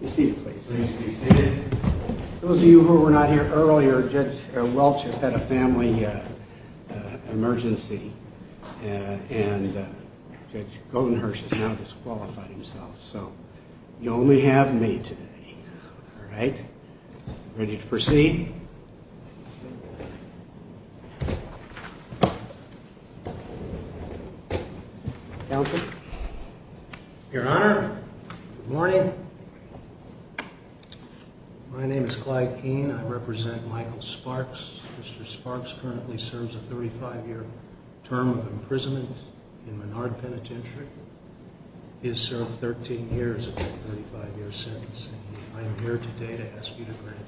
Please be seated. Those of you who were not here earlier, Judge Welch has had a family emergency and Judge Goldenherz has now disqualified himself, so you only have me today. All right. Ready to proceed? Your Honor, good morning. My name is Clyde Keene. I represent Michael Sparks. Mr. Sparks currently serves a 35-year term of imprisonment in Menard Penitentiary. He has served 13 years and a 35-year sentence. I am here today to ask you to grant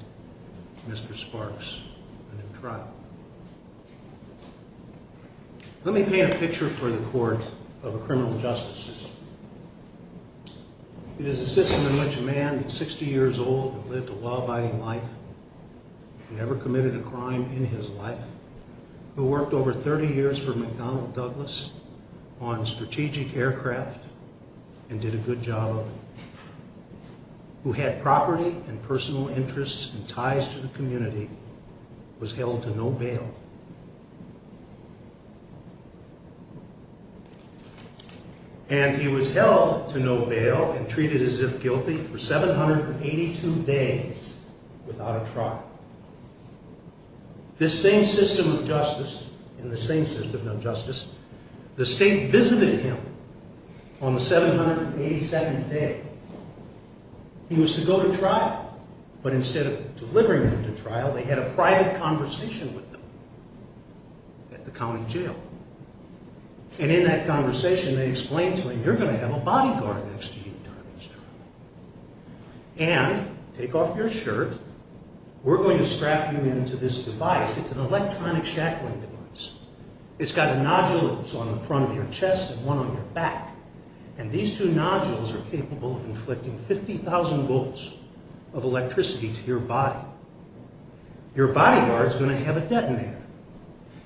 Mr. Sparks a new trial. Let me paint a picture for the court of a criminal justice system. It is a system in which a man who is 60 years old and lived a law-abiding life and never committed a crime in his life, who worked over 30 years for McDonnell Douglas on strategic aircraft and did a good job of it, who had property and personal interests and ties to the community, was held to no bail. And he was held to no bail and treated as if guilty for 782 days without a trial. This same system of justice, in the same system of justice, the state visited him on the 787th day. He was to go to trial, but instead of delivering him to trial, they had a private conversation with him at the county jail. And in that conversation, they explained to him, you're going to have a bodyguard next to you during this trial. And, take off your shirt, we're going to strap you into this device. It's an electronic shackling device. It's got nodules on the front of your chest and one on your back. And these two nodules are capable of inflicting 50,000 volts of electricity to your body. Your bodyguard is going to have a detonator.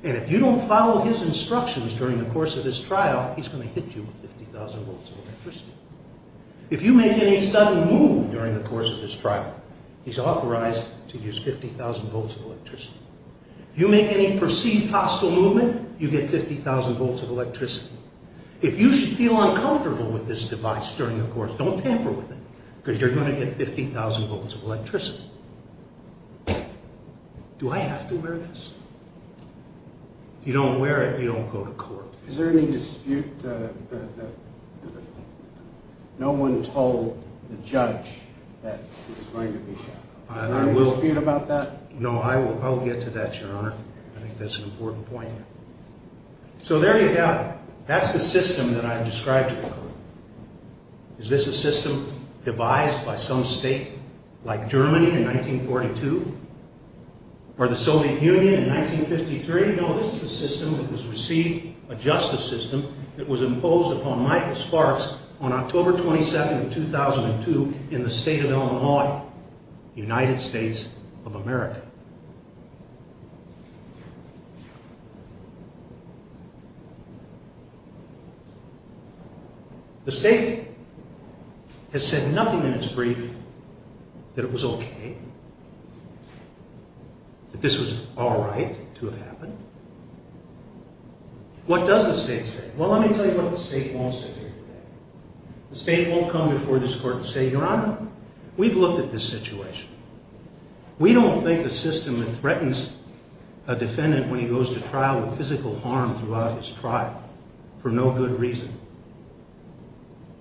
And if you don't follow his instructions during the course of this trial, he's going to hit you with 50,000 volts of electricity. If you make any sudden move during the course of this trial, he's authorized to use 50,000 volts of electricity. If you make any perceived hostile movement, you get 50,000 volts of electricity. If you should feel uncomfortable with this device during the course, don't tamper with it, because you're going to get 50,000 volts of electricity. Do I have to wear this? If you don't wear it, you don't go to court. Is there any dispute that no one told the judge that he was going to be shackled? Is there any dispute about that? No, I will get to that, Your Honor. I think that's an important point. So there you have it. That's the system that I described to you. Is this a system devised by some state like Germany in 1942? Or the Soviet Union in 1953? You're going to notice the system that was received, a justice system, that was imposed upon Michael Sparks on October 22, 2002 in the state of Illinois, United States of America. The state has said nothing in its brief that it was okay, that this was all right to have happened. What does the state say? Well, let me tell you what the state wants to hear today. The state won't come before this court and say, Your Honor, we've looked at this situation. We don't think the system that threatens a defendant when he goes to trial with physical harm throughout his trial for no good reason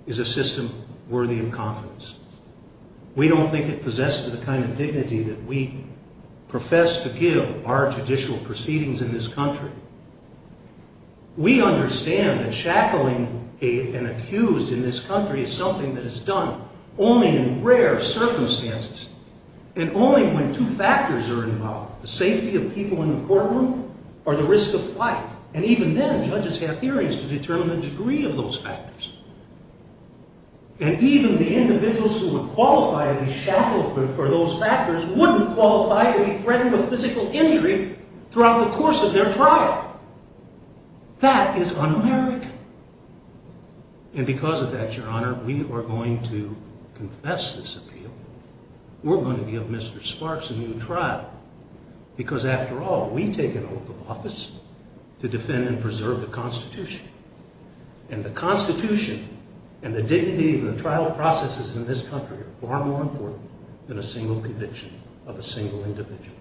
is a system worthy of confidence. We don't think it possesses the kind of dignity that we profess to give our judicial proceedings in this country. We understand that shackling an accused in this country is something that is done only in rare circumstances and only when two factors are involved, the safety of people in the courtroom or the risk of flight. And even then, judges have hearings to determine the degree of those factors. And even the individuals who would qualify to be shackled for those factors wouldn't qualify to be threatened with physical injury throughout the course of their trial. That is un-American. And because of that, Your Honor, we are going to confess this appeal. We're going to give Mr. Sparks a new trial. Because after all, we take an oath of office to defend and preserve the Constitution. And the Constitution and the dignity of the trial processes in this country are far more important than a single conviction of a single individual.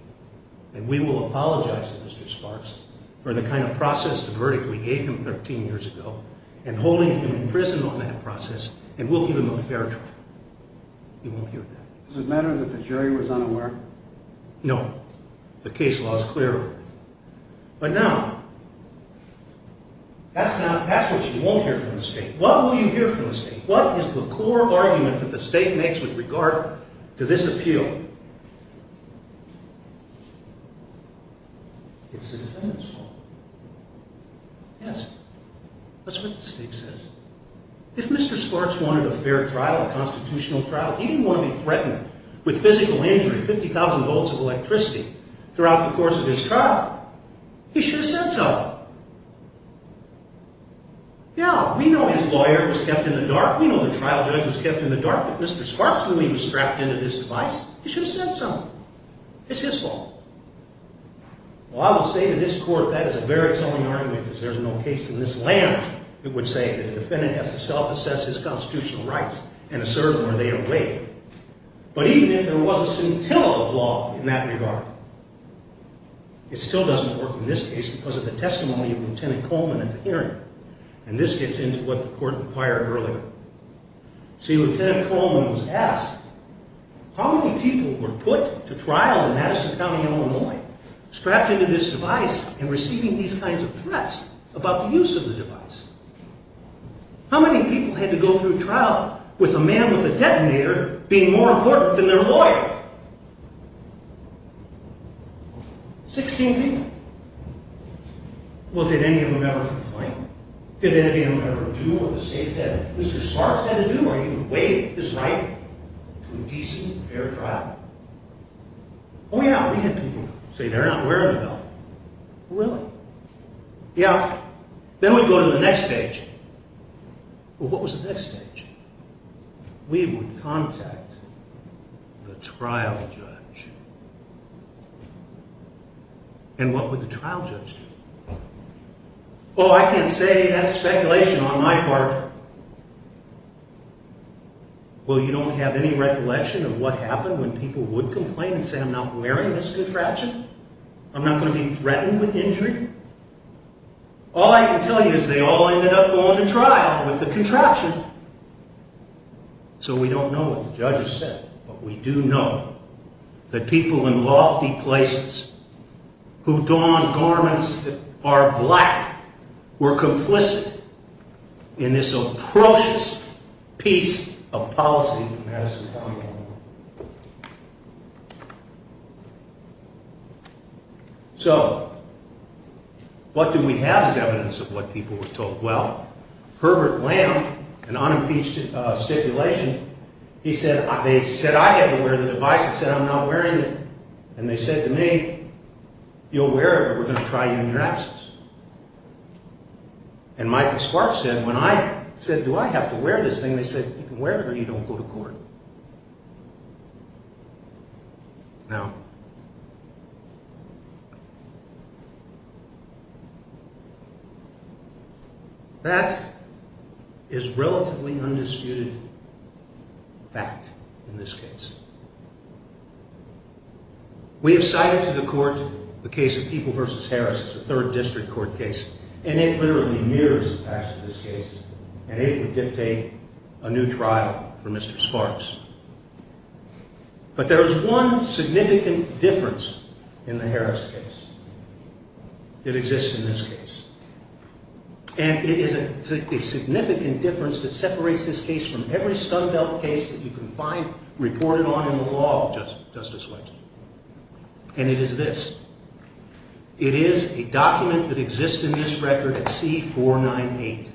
And we will apologize to Mr. Sparks for the kind of process of verdict we gave him 13 years ago and holding him in prison on that process. And we'll give him a fair trial. You won't hear that. Is it a matter that the jury was unaware? No. The case law is clear. But now, that's what you won't hear from the state. What will you hear from the state? What is the core argument that the state makes with regard to this appeal? It's the defendant's fault. Yes. That's what the state says. If Mr. Sparks wanted a fair trial, a constitutional trial, he didn't want to be threatened with physical injury, 50,000 volts of electricity, throughout the course of his trial. He should have said so. Now, we know his lawyer was kept in the dark. We know the trial judge was kept in the dark. If Mr. Sparks knew he was strapped into this device, he should have said so. It's his fault. Well, I will say to this court that is a very telling argument, because there's no case in this land that would say that the defendant has to self-assess his constitutional rights and assert where they are weighted. But even if there was a scintilla of law in that regard, it still doesn't work in this case because of the testimony of Lieutenant Coleman at the hearing. And this gets into what the court inquired earlier. See, Lieutenant Coleman was asked, how many people were put to trial in Madison County, Illinois, strapped into this device and receiving these kinds of threats about the use of the device? How many people had to go through trial with a man with a detonator being more important than their lawyer? Sixteen people. Well, did any of them ever complain? Did any of them ever do what the state said Mr. Sparks had to do, or even weigh his right to a decent, fair trial? Oh, yeah, we had people say they're not wearing the belt. Really? Yeah. Then we go to the next stage. Well, what was the next stage? We would contact the trial judge. And what would the trial judge do? Oh, I can't say. That's speculation on my part. Well, you don't have any recollection of what happened when people would complain and say, I'm not wearing this contraption. I'm not going to be threatened with injury. All I can tell you is they all ended up going to trial with the contraption. So we don't know what the judges said, but we do know that people in lofty places who don garments that are black were complicit in this atrocious piece of policy in Madison County, Illinois. So what do we have as evidence of what people were told? Well, Herbert Lamb, an unimpeached stipulation, he said, they said, I have to wear the device. He said, I'm not wearing it. And they said to me, you'll wear it, but we're going to try you in your absence. And Michael Sparks said, when I said, do I have to wear this thing, they said, you can wear it or you don't go to court. Now, that is relatively undisputed fact in this case. We have cited to the court the case of People v. Harris as a third district court case, and it literally mirrors the facts of this case, and it would dictate a new trial for Mr. Sparks. But there is one significant difference in the Harris case that exists in this case, and it is a significant difference that separates this case from every Stumbelt case that you can find reported on in the law, Justice Waxman, and it is this. It is a document that exists in this record at C-498.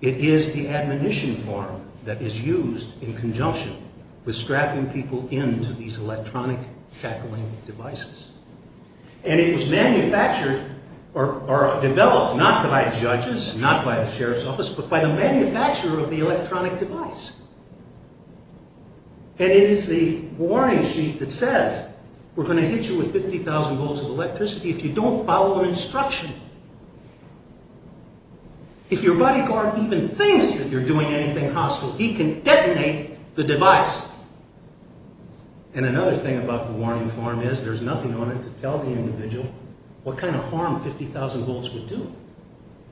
It is the admonition form that is used in conjunction with strapping people into these electronic shackling devices. And it was manufactured, or developed, not by judges, not by the sheriff's office, but by the manufacturer of the electronic device. And it is the warning sheet that says, we're going to hit you with 50,000 volts of electricity if you don't follow an instruction. If your bodyguard even thinks that you're doing anything hostile, he can detonate the device. And another thing about the warning form is there's nothing on it to tell the individual what kind of harm 50,000 volts would do.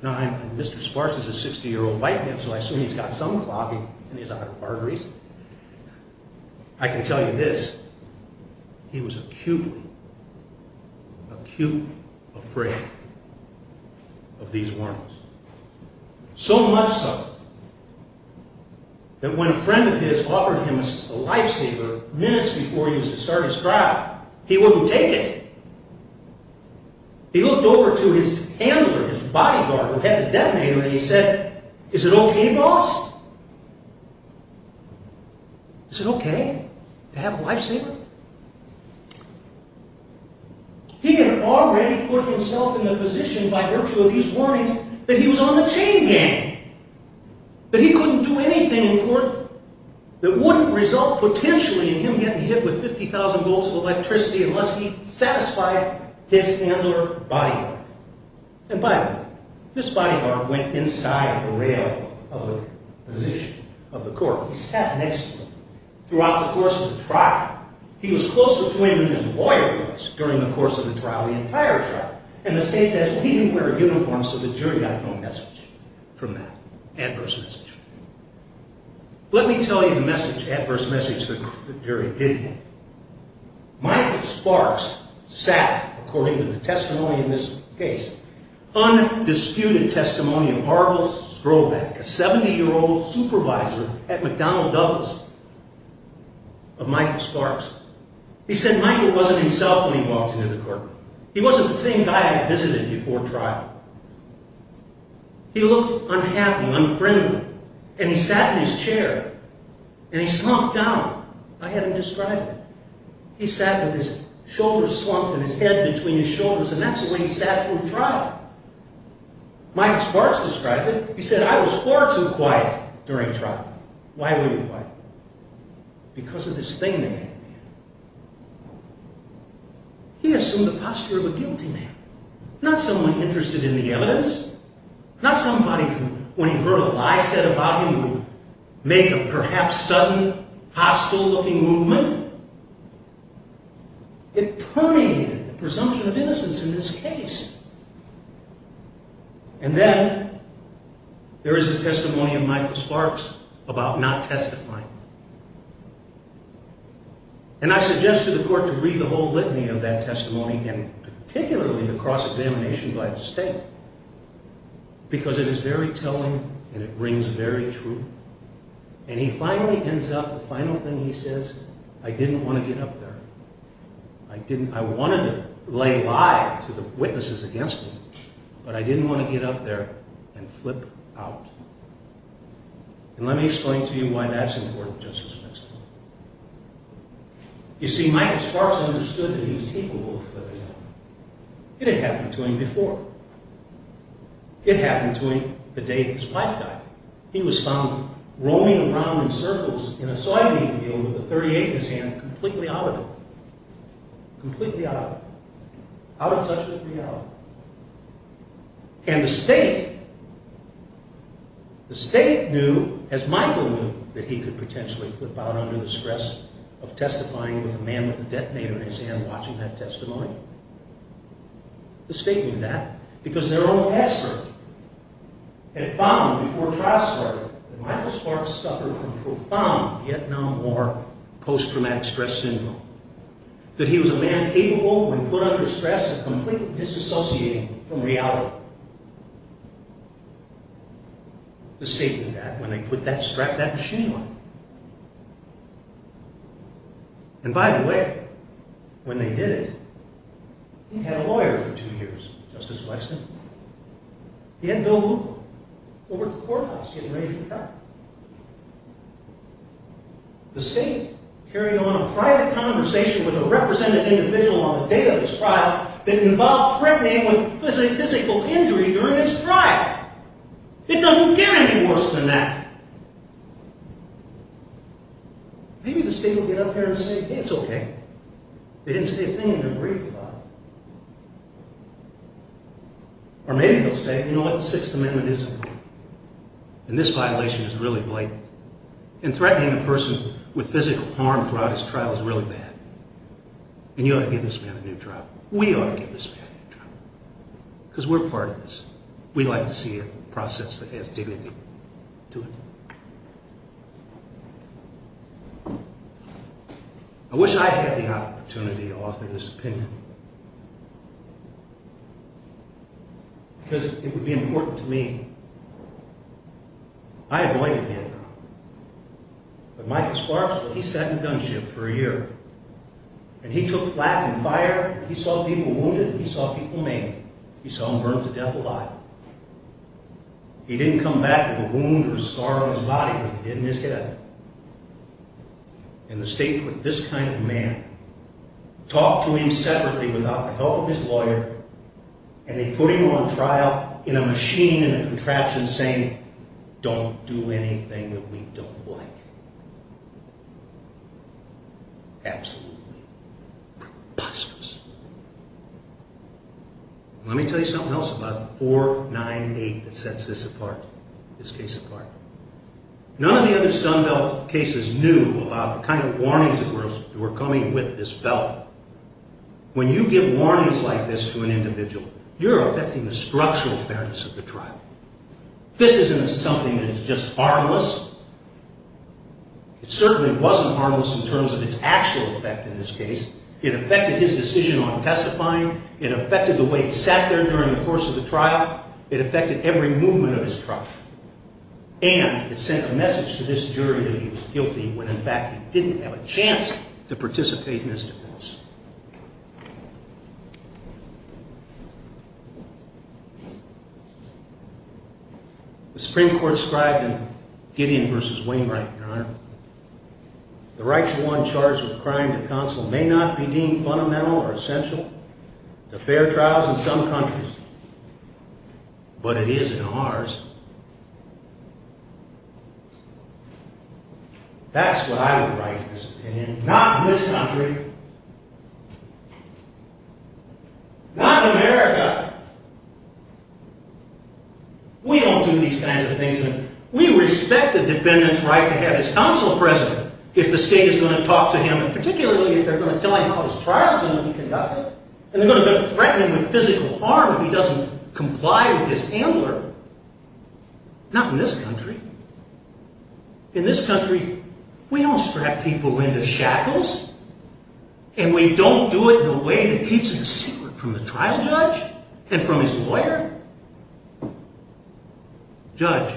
Now, Mr. Sparks is a 60-year-old white man, so I assume he's got some clogging in his arteries. I can tell you this, he was acutely, acutely afraid of these warnings. So much so, that when a friend of his offered him a lifesaver minutes before he was to start his trial, he wouldn't take it. He looked over to his handler, his bodyguard, who had the detonator, and he said, is it okay, boss? Is it okay to have a lifesaver? He had already put himself in a position by virtue of these warnings that he was on the chain gang. That he couldn't do anything in court that wouldn't result potentially in him getting hit with 50,000 volts of electricity unless he satisfied his handler bodyguard. And by the way, his bodyguard went inside the rail of the court. He sat next to him throughout the course of the trial. He was close to him when his lawyer was during the course of the trial, the entire trial. And the state said he didn't wear a uniform, so the jury got no message from that, adverse message. Let me tell you the message, adverse message, the jury did get. Michael Sparks sat, according to the testimony in this case, undisputed testimony of Harvold Strolbeck, a 70-year-old supervisor at McDonald Douglas, of Michael Sparks. He said Michael wasn't himself when he walked into the courtroom. He wasn't the same guy I had visited before trial. He looked unhappy, unfriendly, and he sat in his chair, and he slumped down. I had him describe it. He sat with his shoulders slumped and his head between his shoulders, and that's the way he sat through trial. Michael Sparks described it. He said, I was far too quiet during trial. Why were you quiet? Because of this thing that he did. He assumed the posture of a guilty man, not someone interested in the evidence, not somebody who, when he heard a lie said about him, would make a perhaps sudden, hostile-looking movement. It permeated the presumption of innocence in this case. And then, there is the testimony of Michael Sparks about not testifying. And I suggested to the court to read the whole litany of that testimony, and particularly the cross-examination by the state, because it is very telling, and it brings very true. And he finally ends up, the final thing he says, I didn't want to get up there. I wanted to lay lie to the witnesses against me. But I didn't want to get up there and flip out. And let me explain to you why that's important, Justice McInnes. You see, Michael Sparks understood that he was capable of flipping out. It had happened to him before. It happened to him the day his wife died. He was found roaming around in circles in a soybean field with a .38 in his hand, completely out of it. Completely out of it. Out of touch with reality. And the state, the state knew, as Michael knew, that he could potentially flip out under the stress of testifying with a man with a detonator in his hand watching that testimony. The state knew that because their own password had found, before a trial started, that Michael Sparks suffered from profound Vietnam War post-traumatic stress syndrome. That he was a man capable, when put under stress, of completely disassociating from reality. The state knew that when they put that, strapped that machine on him. And by the way, when they did it, he'd had a lawyer for two years, Justice Waxman. He had Bill Luco over at the courthouse getting ready for the trial. The state carried on a private conversation with a representative individual on the day of his trial that involved threatening with physical injury during his trial. It doesn't get any worse than that. Maybe the state will get up there and say, it's okay. They didn't say a thing in their brief about it. Or maybe they'll say, you know what, the Sixth Amendment isn't. And this violation is really blatant. And threatening a person with physical harm throughout his trial is really bad. And you ought to give this man a new job. We ought to give this man a new job. Because we're part of this. We like to see a process that has dignity to it. I wish I had the opportunity to offer this opinion. Because it would be important to me. I avoided Vietnam. But Michael Sparks, well, he sat in a gunship for a year. And he took flak and fire. He saw people wounded. He saw people maimed. He saw them burned to death alive. He didn't come back with a wound or a scar on his body, but he did in his head. And the state put this kind of man, talked to him separately without the help of his lawyer, and they put him on trial in a machine in a contraption saying, don't do anything that we don't like. Absolutely preposterous. Let me tell you something else about 498 that sets this case apart. None of the other Stoneville cases knew about the kind of warnings that were coming with this felon. When you give warnings like this to an individual, you're affecting the structural fairness of the trial. This isn't something that is just harmless. It certainly wasn't harmless in terms of its actual effect in this case. It affected his decision on testifying. It affected the way he sat there during the course of the trial. It affected every movement of his truck. And it sent a message to this jury that he was guilty when in fact he didn't have a chance to participate in his defense. The Supreme Court scribed in Gideon v. Wainwright, Your Honor, the right to go on charge with a crime to counsel may not be deemed fundamental or essential to fair trials in some countries, but it is in ours. That's what I would write in this opinion. Not in this country. Not in America. We don't do these kinds of things. We respect the defendant's right to have his counsel present if the state is going to talk to him, and particularly if they're going to tell him how his trial is going to be conducted, and they're going to threaten him with physical harm if he doesn't comply with this ambler. Not in this country. In this country, we don't strap people into shackles, and we don't do it in a way that keeps it a secret from the trial judge and from his lawyer. Judge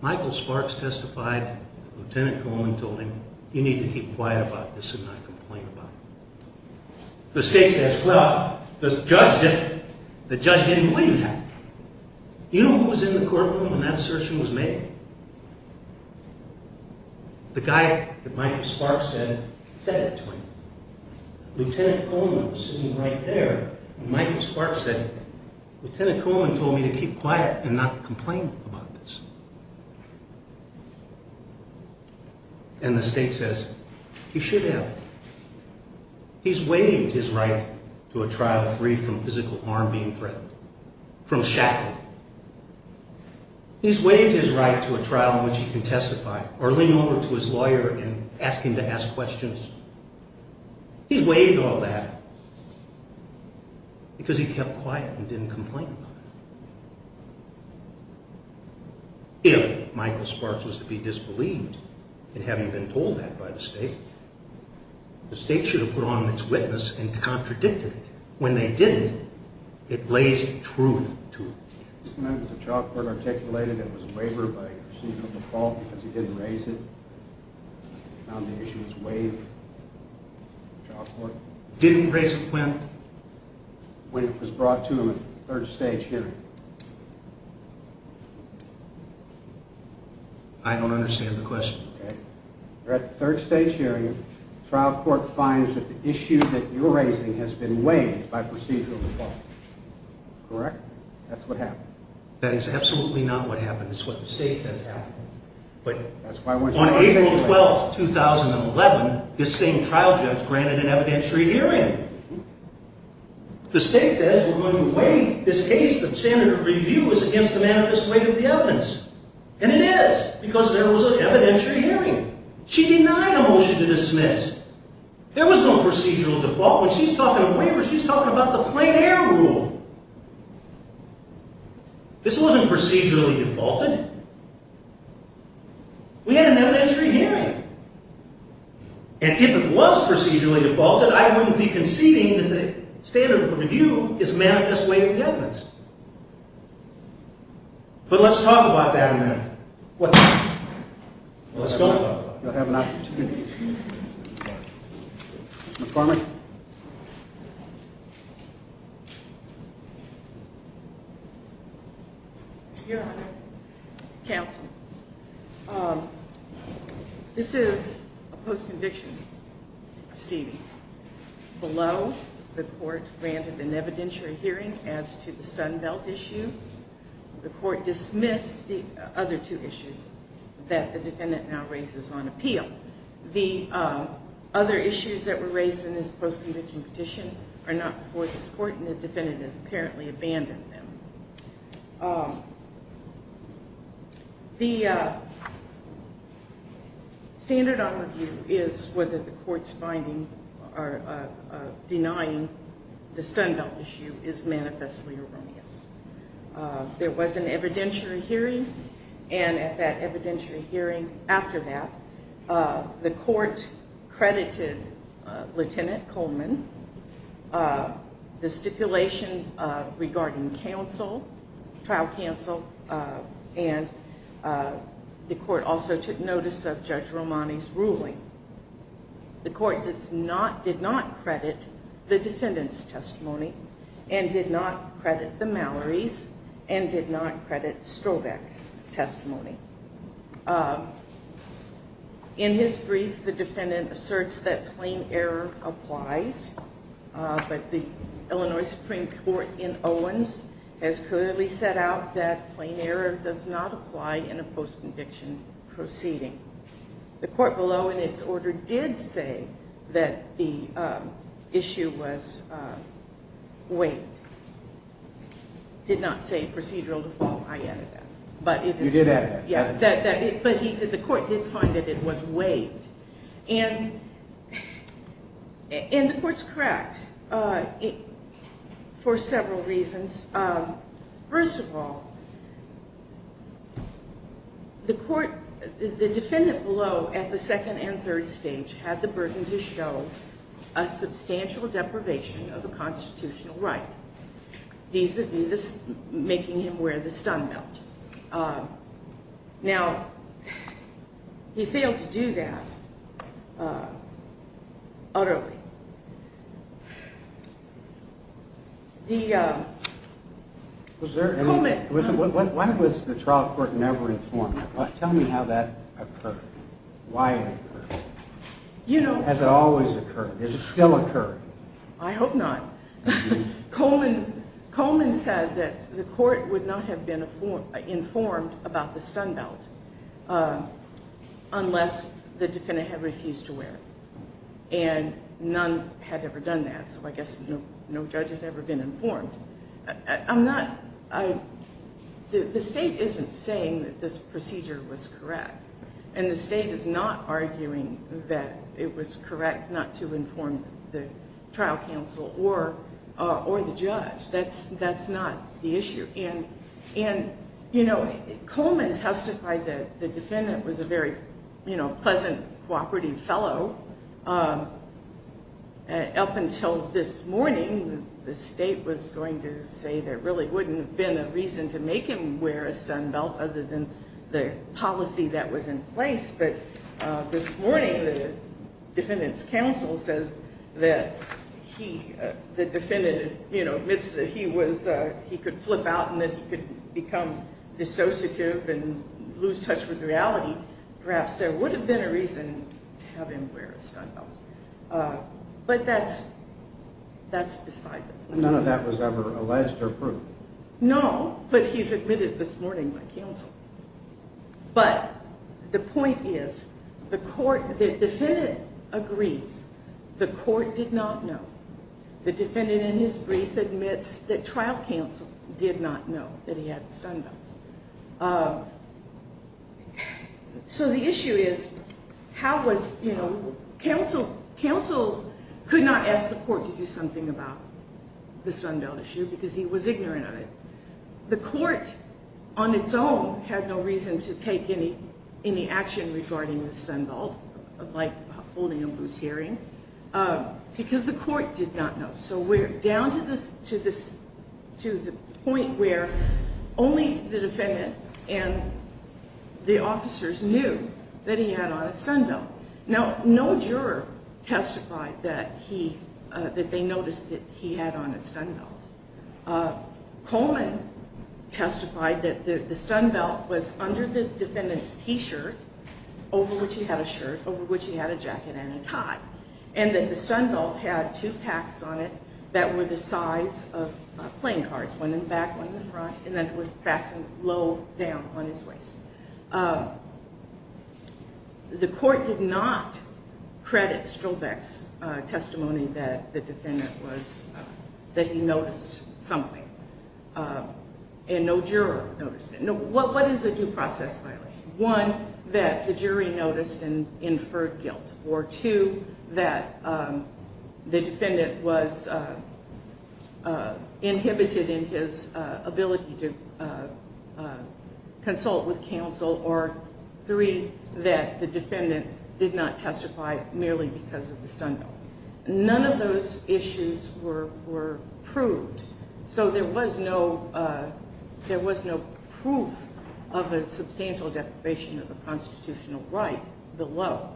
Michael Sparks testified, Lieutenant Coleman told him, you need to keep quiet about this and not complain about it. The state says, well, the judge didn't believe that. You know who was in the courtroom when that assertion was made? The guy that Michael Sparks said said it to him. Lieutenant Coleman was sitting right there, and Michael Sparks said, Lieutenant Coleman told me to keep quiet and not complain about this. And the state says, he should have. He's waived his right to a trial free from physical harm being threatened, and shackled. He's waived his right to a trial in which he can testify, or lean over to his lawyer and ask him to ask questions. He's waived all that because he kept quiet and didn't complain about it. If Michael Sparks was to be disbelieved in having been told that by the state, the state should have put on its witness and contradicted it. When they didn't, it lays truth to it. The trial court articulated it was a waiver by the chief of the court because he didn't raise it. Found the issue was waived. The trial court didn't raise it when? When it was brought to him at the third stage hearing. I don't understand the question. At the third stage hearing, the trial court finds that the issue that you're raising has been waived by procedural default. Correct? That's what happened. That is absolutely not what happened. It's what the state says happened. But on April 12, 2011, this same trial judge granted an evidentiary hearing. The state says we're going to waive this case. The standard of review is against the manifest weight of the evidence. And it is because there was an evidentiary hearing. She denied a motion to dismiss. There was no procedural default. When she's talking of waivers, she's talking about the plain error rule. This wasn't procedurally defaulted. We had an evidentiary hearing. And if it was procedurally defaulted, I wouldn't be conceding that the standard of review is manifest weight of the evidence. But let's talk about that now. What? Let's talk about that. You'll have an opportunity. Ms. Barman. Your Honor. Counsel. This is a post-conviction proceeding. Below, the court granted an evidentiary hearing as to the stun belt issue. The court dismissed the other two issues that the defendant now raises on appeal. The other issues that were raised in this post-conviction petition are not before this court, and the defendant has apparently abandoned them. The standard of review is whether the court's finding or denying the stun belt issue is manifestly erroneous. There was an evidentiary hearing, and at that evidentiary hearing after that, the court credited Lieutenant Coleman the stipulation regarding trial counsel, and the court also took notice of Judge Romani's ruling. The court did not credit the defendant's testimony and did not credit the Mallory's and did not credit Strovek's testimony. In his brief, the defendant asserts that plain error applies, but the Illinois Supreme Court in Owens has clearly set out that plain error does not apply in a post-conviction proceeding. The court below in its order did say that the issue was waived. It did not say procedural default, I added that. You did add that. But the court did find that it was waived, and the court's correct for several reasons. First of all, the defendant below at the second and third stage had the burden to show a substantial deprivation of a constitutional right, making him wear the stun belt. Now, he failed to do that utterly. Coleman. Why was the trial court never informed? Tell me how that occurred. Why did it occur? Has it always occurred? Does it still occur? I hope not. Coleman said that the court would not have been informed about the stun belt unless the defendant had refused to wear it, and none had ever done that, so I guess no judge has ever been informed. I'm not... The state isn't saying that this procedure was correct, but the state is not arguing that it was correct not to inform the trial counsel or the judge. That's not the issue. And, you know, Coleman testified that the defendant was a very pleasant, cooperative fellow. Up until this morning, the state was going to say there really wouldn't have been a reason to make him wear a stun belt other than the policy that was in place, but this morning the defendant's counsel says that the defendant admits that he could flip out and that he could become dissociative and lose touch with reality. Perhaps there would have been a reason to have him wear a stun belt, None of that was ever alleged or proved? No, but he's admitted this morning by counsel. But the point is, the defendant agrees. The court did not know. The defendant, in his brief, admits that trial counsel did not know that he had a stun belt. So the issue is, how was, you know, counsel could not ask the court to do something about the stun belt issue because he was ignorant of it? The court, on its own, had no reason to take any action regarding the stun belt, like holding a loose hearing, because the court did not know. So we're down to the point where only the defendant and the officers knew that he had on a stun belt. Now, no juror testified that he, that they noticed that he had on a stun belt. Coleman testified that the stun belt was under the defendant's t-shirt, over which he had a shirt, over which he had a jacket and a tie, and that the stun belt had two packs on it that were the size of playing cards, one in the back, one in the front, and that it was fastened low down on his waist. The court did not credit Strobeck's testimony that the defendant was, that he noticed something, and no juror noticed it. What is a due process violation? One, that the jury noticed and inferred guilt, or two, that the defendant was inhibited in his ability to consult with counsel, or three, that the defendant did not testify merely because of the stun belt. None of those issues were proved, so there was no proof of a substantial deprivation of the constitutional right below,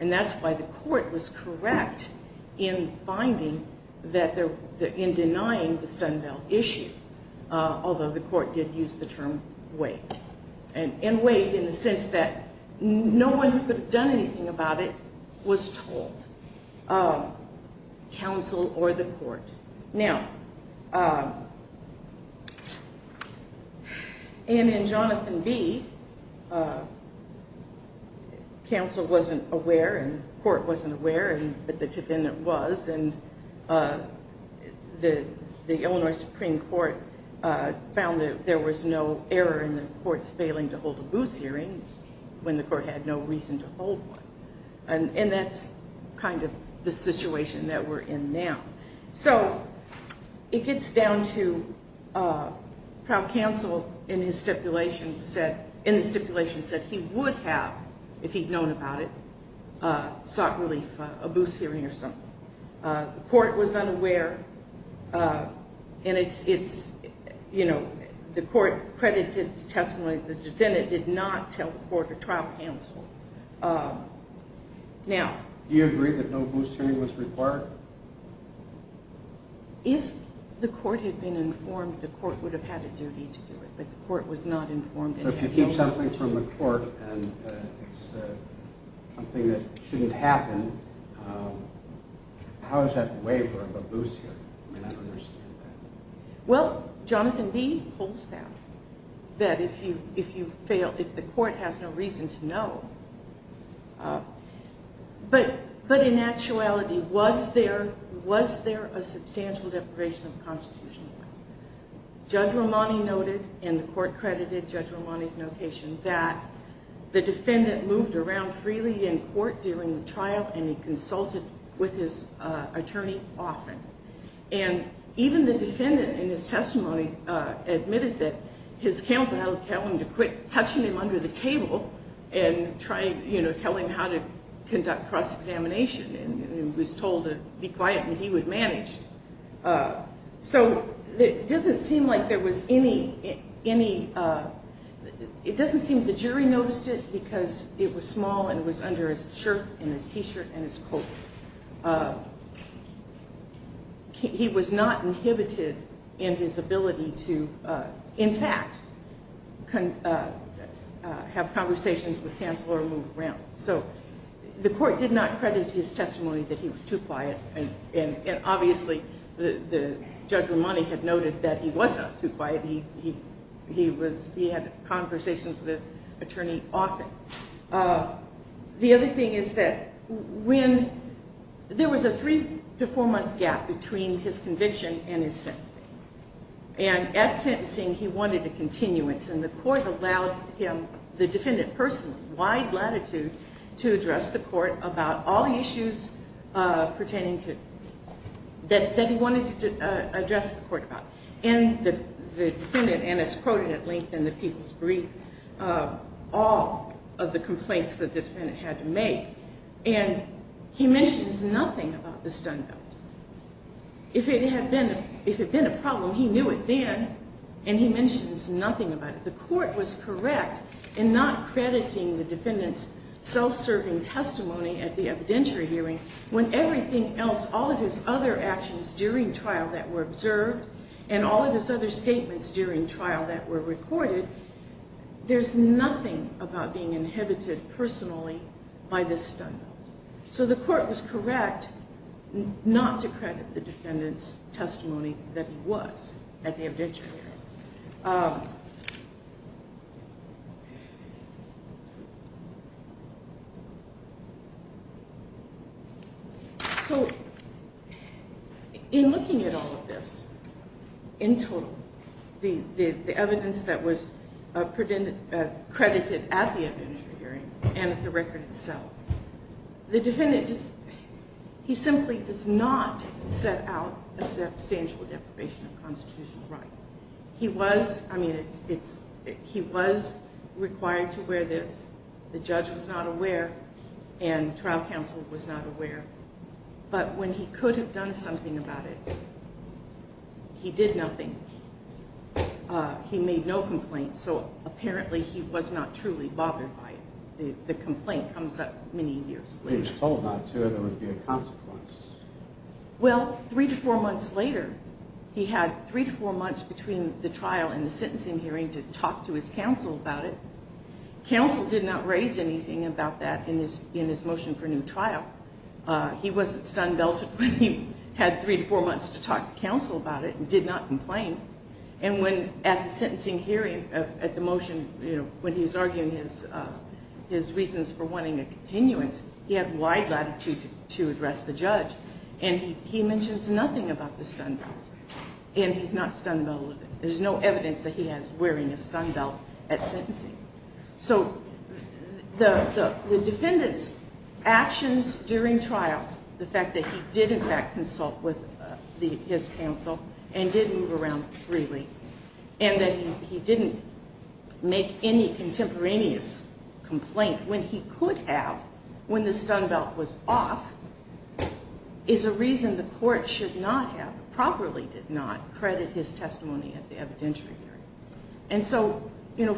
and that's why the court was correct in finding that, in denying the stun belt issue, although the court did use the term waived, and waived in the sense that no one who could have done anything about it was told. Counsel or the court. Now, and in Jonathan B., counsel wasn't aware, and the court wasn't aware, but the defendant was, and the Illinois Supreme Court found that there was no error in the court's failing to hold a booze hearing when the court had no reason to hold one, and that's kind of the situation that we're in now. So, it gets down to trial counsel, in his stipulation, said he would have, if he'd known about it, sought relief, a booze hearing or something. The court was unaware, and it's, you know, the court credited testimony that the defendant did not tell the court or trial counsel. Now... Do you agree that no booze hearing was required? If the court had been informed, the court would have had a duty to do it, but the court was not informed... So if you keep something from the court and it's something that shouldn't happen, how is that a waiver of a booze hearing? I mean, I don't understand that. Well, Jonathan B. holds that, that if you fail, if the court has no reason to know... But in actuality, was there a substantial deprivation of constitutional right? Judge Romani noted, and the court credited Judge Romani's notation, that the defendant moved around freely in court during the trial, and he consulted with his attorney often. And even the defendant, in his testimony, admitted that his counsel had told him to quit touching him under the table and try, you know, tell him how to conduct cross-examination. And he was told to be quiet and he would manage. So it doesn't seem like there was any... It doesn't seem the jury noticed it because it was small and it was under his shirt and his T-shirt and his coat. He was not inhibited in his ability to, in fact, have conversations with counsel or move around. So the court did not credit his testimony that he was too quiet. And obviously, Judge Romani had noted that he was not too quiet. He had conversations with his attorney often. The other thing is that when... There was a three- to four-month gap between his conviction and his sentencing. And at sentencing, he wanted a continuance. And the court allowed him, the defendant personally, with wide latitude, to address the court about all the issues that he wanted to address the court about. And the defendant, and it's quoted at length in the People's Brief, all of the complaints that the defendant had to make. And he mentions nothing about the stun belt. He mentions nothing about it. The court was correct in not crediting the defendant's self-serving testimony at the evidentiary hearing when everything else, all of his other actions during trial that were observed and all of his other statements during trial that were recorded, there's nothing about being inhibited personally by this stun belt. So the court was correct not to credit the defendant's self-serving testimony. So, in looking at all of this, in total, the evidence that was credited at the evidentiary hearing and at the record itself, the defendant, he simply does not set out a substantial deprivation of constitutional right. He was, I mean, he was required to wear this. The judge was not aware and trial counsel was not aware. But when he could have done something about it, he did nothing. He made no complaints, so apparently he was not truly bothered by it. The complaint comes up many years later. He was told not to or there would be a consequence. Well, three to four months later, he had three to four months between the trial and the sentencing hearing to talk to his counsel about it. Counsel did not raise anything about that in his motion for new trial. He wasn't stun belted when he had three to four months to talk to counsel about it and did not complain. And when at the sentencing hearing, at the motion, when he was arguing his reasons for wanting a continuance, he had wide latitude and said it's nothing about the stun belt and he's not stun belted. There's no evidence that he has wearing a stun belt at sentencing. So the defendant's actions during trial, the fact that he did in fact consult with his counsel and did move around freely and that he didn't make when he could have when the stun belt was off is a reason the court should not have, properly did not credit his testimony at the evidentiary hearing. And so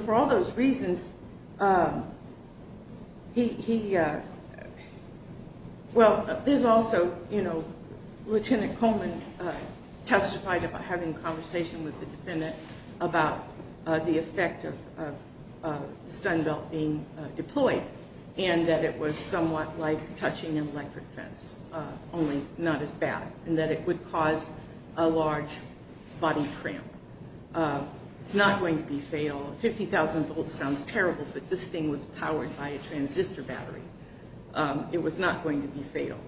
for all those reasons, well there's also, Lieutenant Coleman testified about having a conversation with the defendant about the effect of the stun belt being deployed and that it was somewhat like touching an electric fence, only not as bad as it would cause a large body cramp. It's not going to be fatal. 50,000 volts sounds terrible but this thing was powered by a transistor battery. It was not going to be fatal.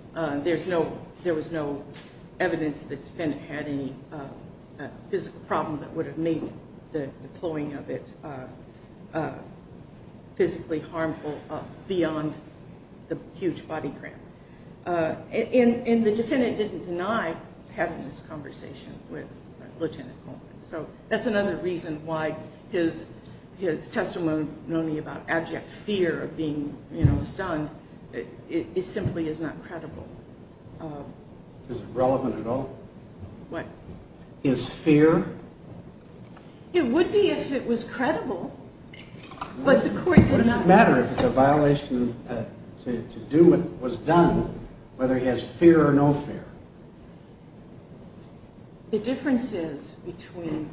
There was no evidence the defendant had any physical problem that would have made the deploying of it physically harmful beyond the huge body cramp. And the defendant didn't deny having this conversation with Lieutenant Coleman. So that's another reason why his testimony about abject fear of being stunned simply is not credible. Is it relevant at all? What? His fear? It would be if it was credible but the court did not. What does it matter if it's a violation to do what was done The difference is between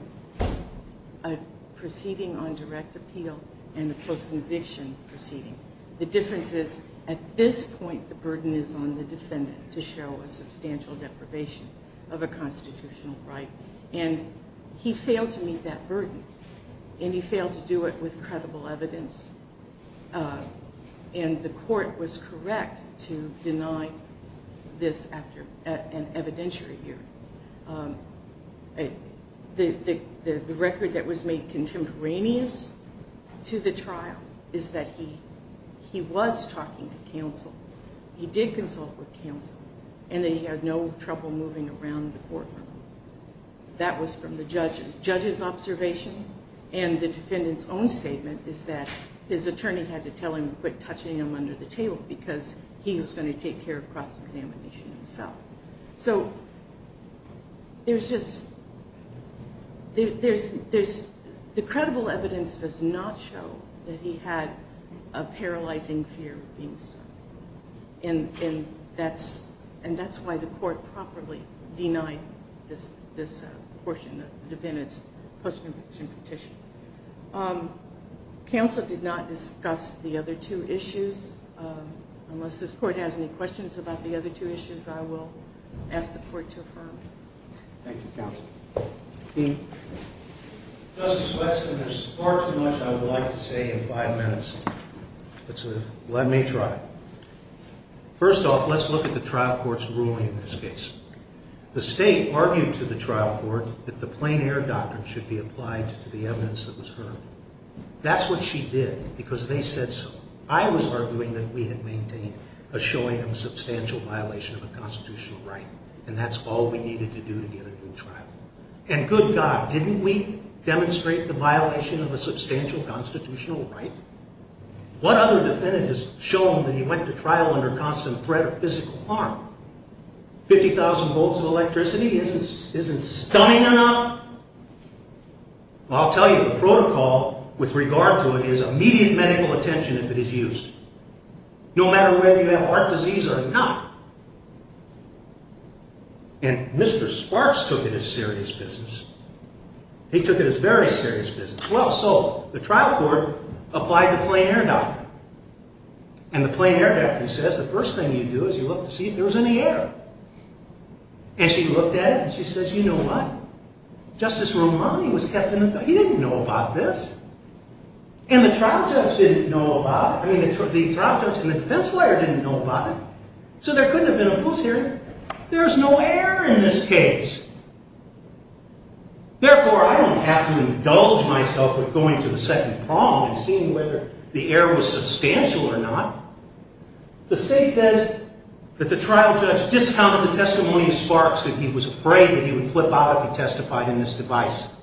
a proceeding on direct appeal and a post-conviction proceeding. The difference is at this point the burden is on the defendant to show a substantial deprivation of a constitutional right and he failed to meet that burden and he failed to do it with credible evidence and the court was correct to deny this after an evidentiary hearing. The record that was made contemporaneous to the trial is that he was talking to counsel. He did consult with counsel and they had no trouble moving around the courtroom. That was from the judge's observations and the defendant's own statement is that his attorney had to tell him to quit touching him under the table and he did so. So, there's just the credible evidence does not show that he had a paralyzing fear of being stabbed and that's why the court properly denied this portion of the defendant's post-conviction petition. Counsel did not discuss the other two issues unless this court has any questions and I will ask the court to affirm. Thank you, counsel. Dean. Justice Wexler, there's far too much I would like to say in five minutes. Let me try. First off, let's look at the trial court's ruling in this case. The state argued to the trial court that the plain air doctrine should be applied to the evidence that was heard. That's what she did because they said so. I was arguing that we had maintained a showing of a substantial violation of a constitutional right and that's all we needed to do to get a new trial. And good God, didn't we demonstrate the violation of a substantial constitutional right? What other defendant has shown that he went to trial under constant threat of physical harm? 50,000 volts of electricity isn't stunning enough? I'll tell you, the protocol with regard to it is immediate medical attention if it is used. No matter whether you have heart disease or not. And Mr. Sparks took it as serious business. He took it as very serious business. Well, so, the trial court applied the plain air doctrine. And the plain air doctrine says the first thing you do is you look to see if there was any error. And she looked at it and she says, you know what? Justice Romani was kept in the dark. He didn't know about this. And the trial judge didn't know about it. I mean, the trial judge and the defense lawyer didn't know about it. So there couldn't have been a post-hearing. There's no error in this case. Therefore, I don't have to indulge myself with going to the second prong and seeing whether the error was substantial or not. The state says that the trial judge discounted the testimony of Sparks that he was afraid that he would flip out if he testified in this device.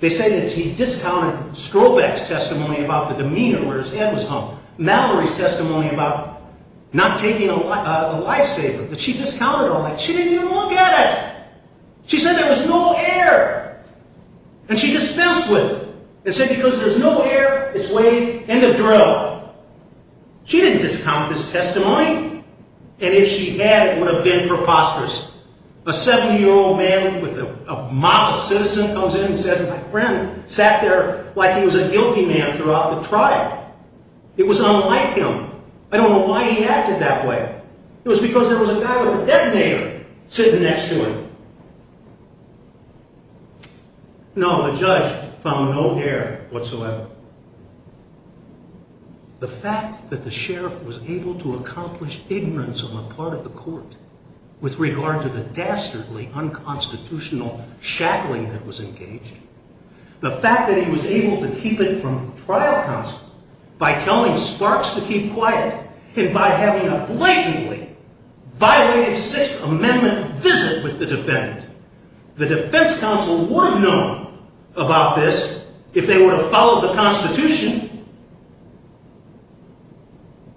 They say that he discounted Strobeck's testimony about the demeanor where his head was hung. Mallory's testimony about not taking a lifesaver. But she discounted all that. She didn't even look at it. She said there was no error. And she dispensed with it. And said because there's no error, it's weighed in the drill. She didn't discount this testimony. And if she had, it would have been preposterous. A seven-year-old man with a mock citizen comes in and says, my friend sat there like he was a guilty man throughout the trial. It was unlike him. I don't know why he acted that way. It was because there was a guy with a detonator sitting next to him. No, the judge found no error whatsoever. The fact that the sheriff was able to accomplish ignorance on the part of the court with regard to the dastardly unconstitutional shackling that was engaged. The fact that he was able to keep it from the trial counsel by telling Sparks to keep quiet and by having a blatantly violated Sixth Amendment visit with the defendant. counsel would have known about this if they would have Constitution.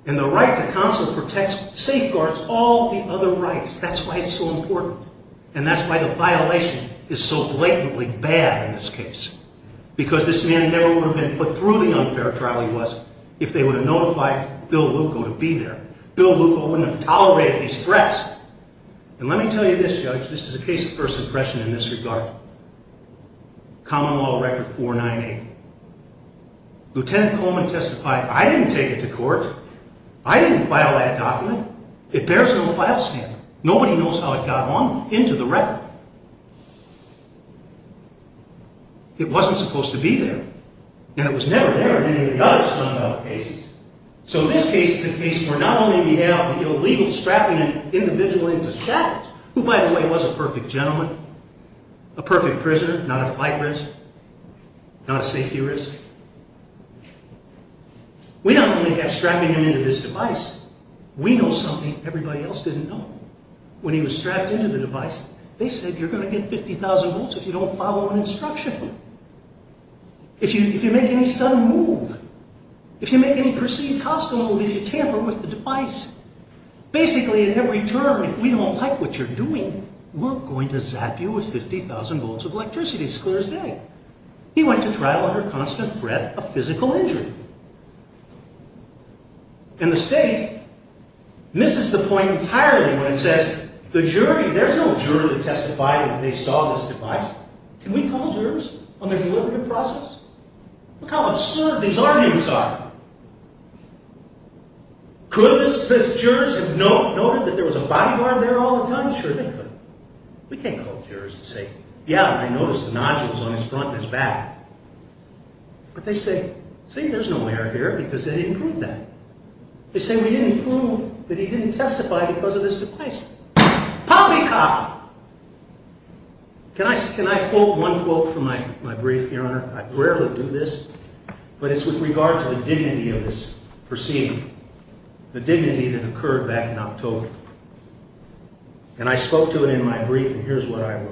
And the right to counsel protects, safeguards all the other rights. That's why it's so important. And that's why the violation is so blatantly bad in this case. Because this man never would have been put through the unfair trial he was if they would have notified Bill Luko to be there. Bill Luko wouldn't have tolerated these threats. And let me tell you this, Judge, this is a case of first impression in this regard. Common Law Record 498. Lieutenant Coleman testified, I didn't take it to court. I didn't file that document. It bears no file stamp. Nobody knows how it got on into the record. It wasn't supposed to be there. And it was never there in any of the other Sunbelt cases. So this case is a case where not only we have the illegal strapping an individual into shackles, who by the way was a perfect gentleman, a perfect prisoner, not a flight risk, not a safety risk. We not only have strapping him into this device, we know something everybody else didn't know. When he was strapped into the device, they said you're going to get 50,000 volts if you don't follow an instruction. If you make move, if you make any perceived cost, if you tamper with the device, basically in every term, if we don't like what you're doing, we're going to zap you with 50,000 volts of electricity. He went to trial under constant threat of physical injury. And the state misses the point entirely when it says, there's no juror to testify that they saw this device. Can we call jurors on the process? Look how absurd these arguments are. Could the jurors have said, we can't call jurors to say, yeah, I noticed the nodules on his front and his back. But they say, see, there's no error here because they didn't prove that. They say we didn't prove that he didn't testify because of this device. Poppycock! Can I quote one quote from my brief, Your Honor? I rarely do this, but it's with regard to the dignity of this proceeding, the dignity that occurred back in October. And I spoke to it in my brief, and here's what I wrote.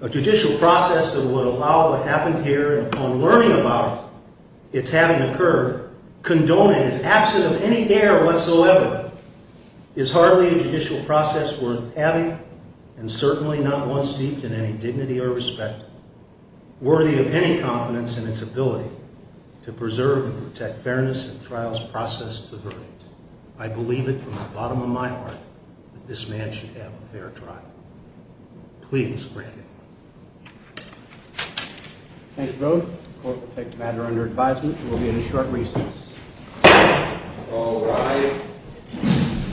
A judicial process that would allow what happened here, upon learning about its having occurred, condoned and is absent of any error whatsoever, is hardly a worthy of any confidence in its ability to preserve and protect fairness in trials processed to verdict. I believe it from the bottom of my heart that this man should have a fair trial. Please break it. Thank you both. The court will take the matter under advisement and will be in a short recess. All rise.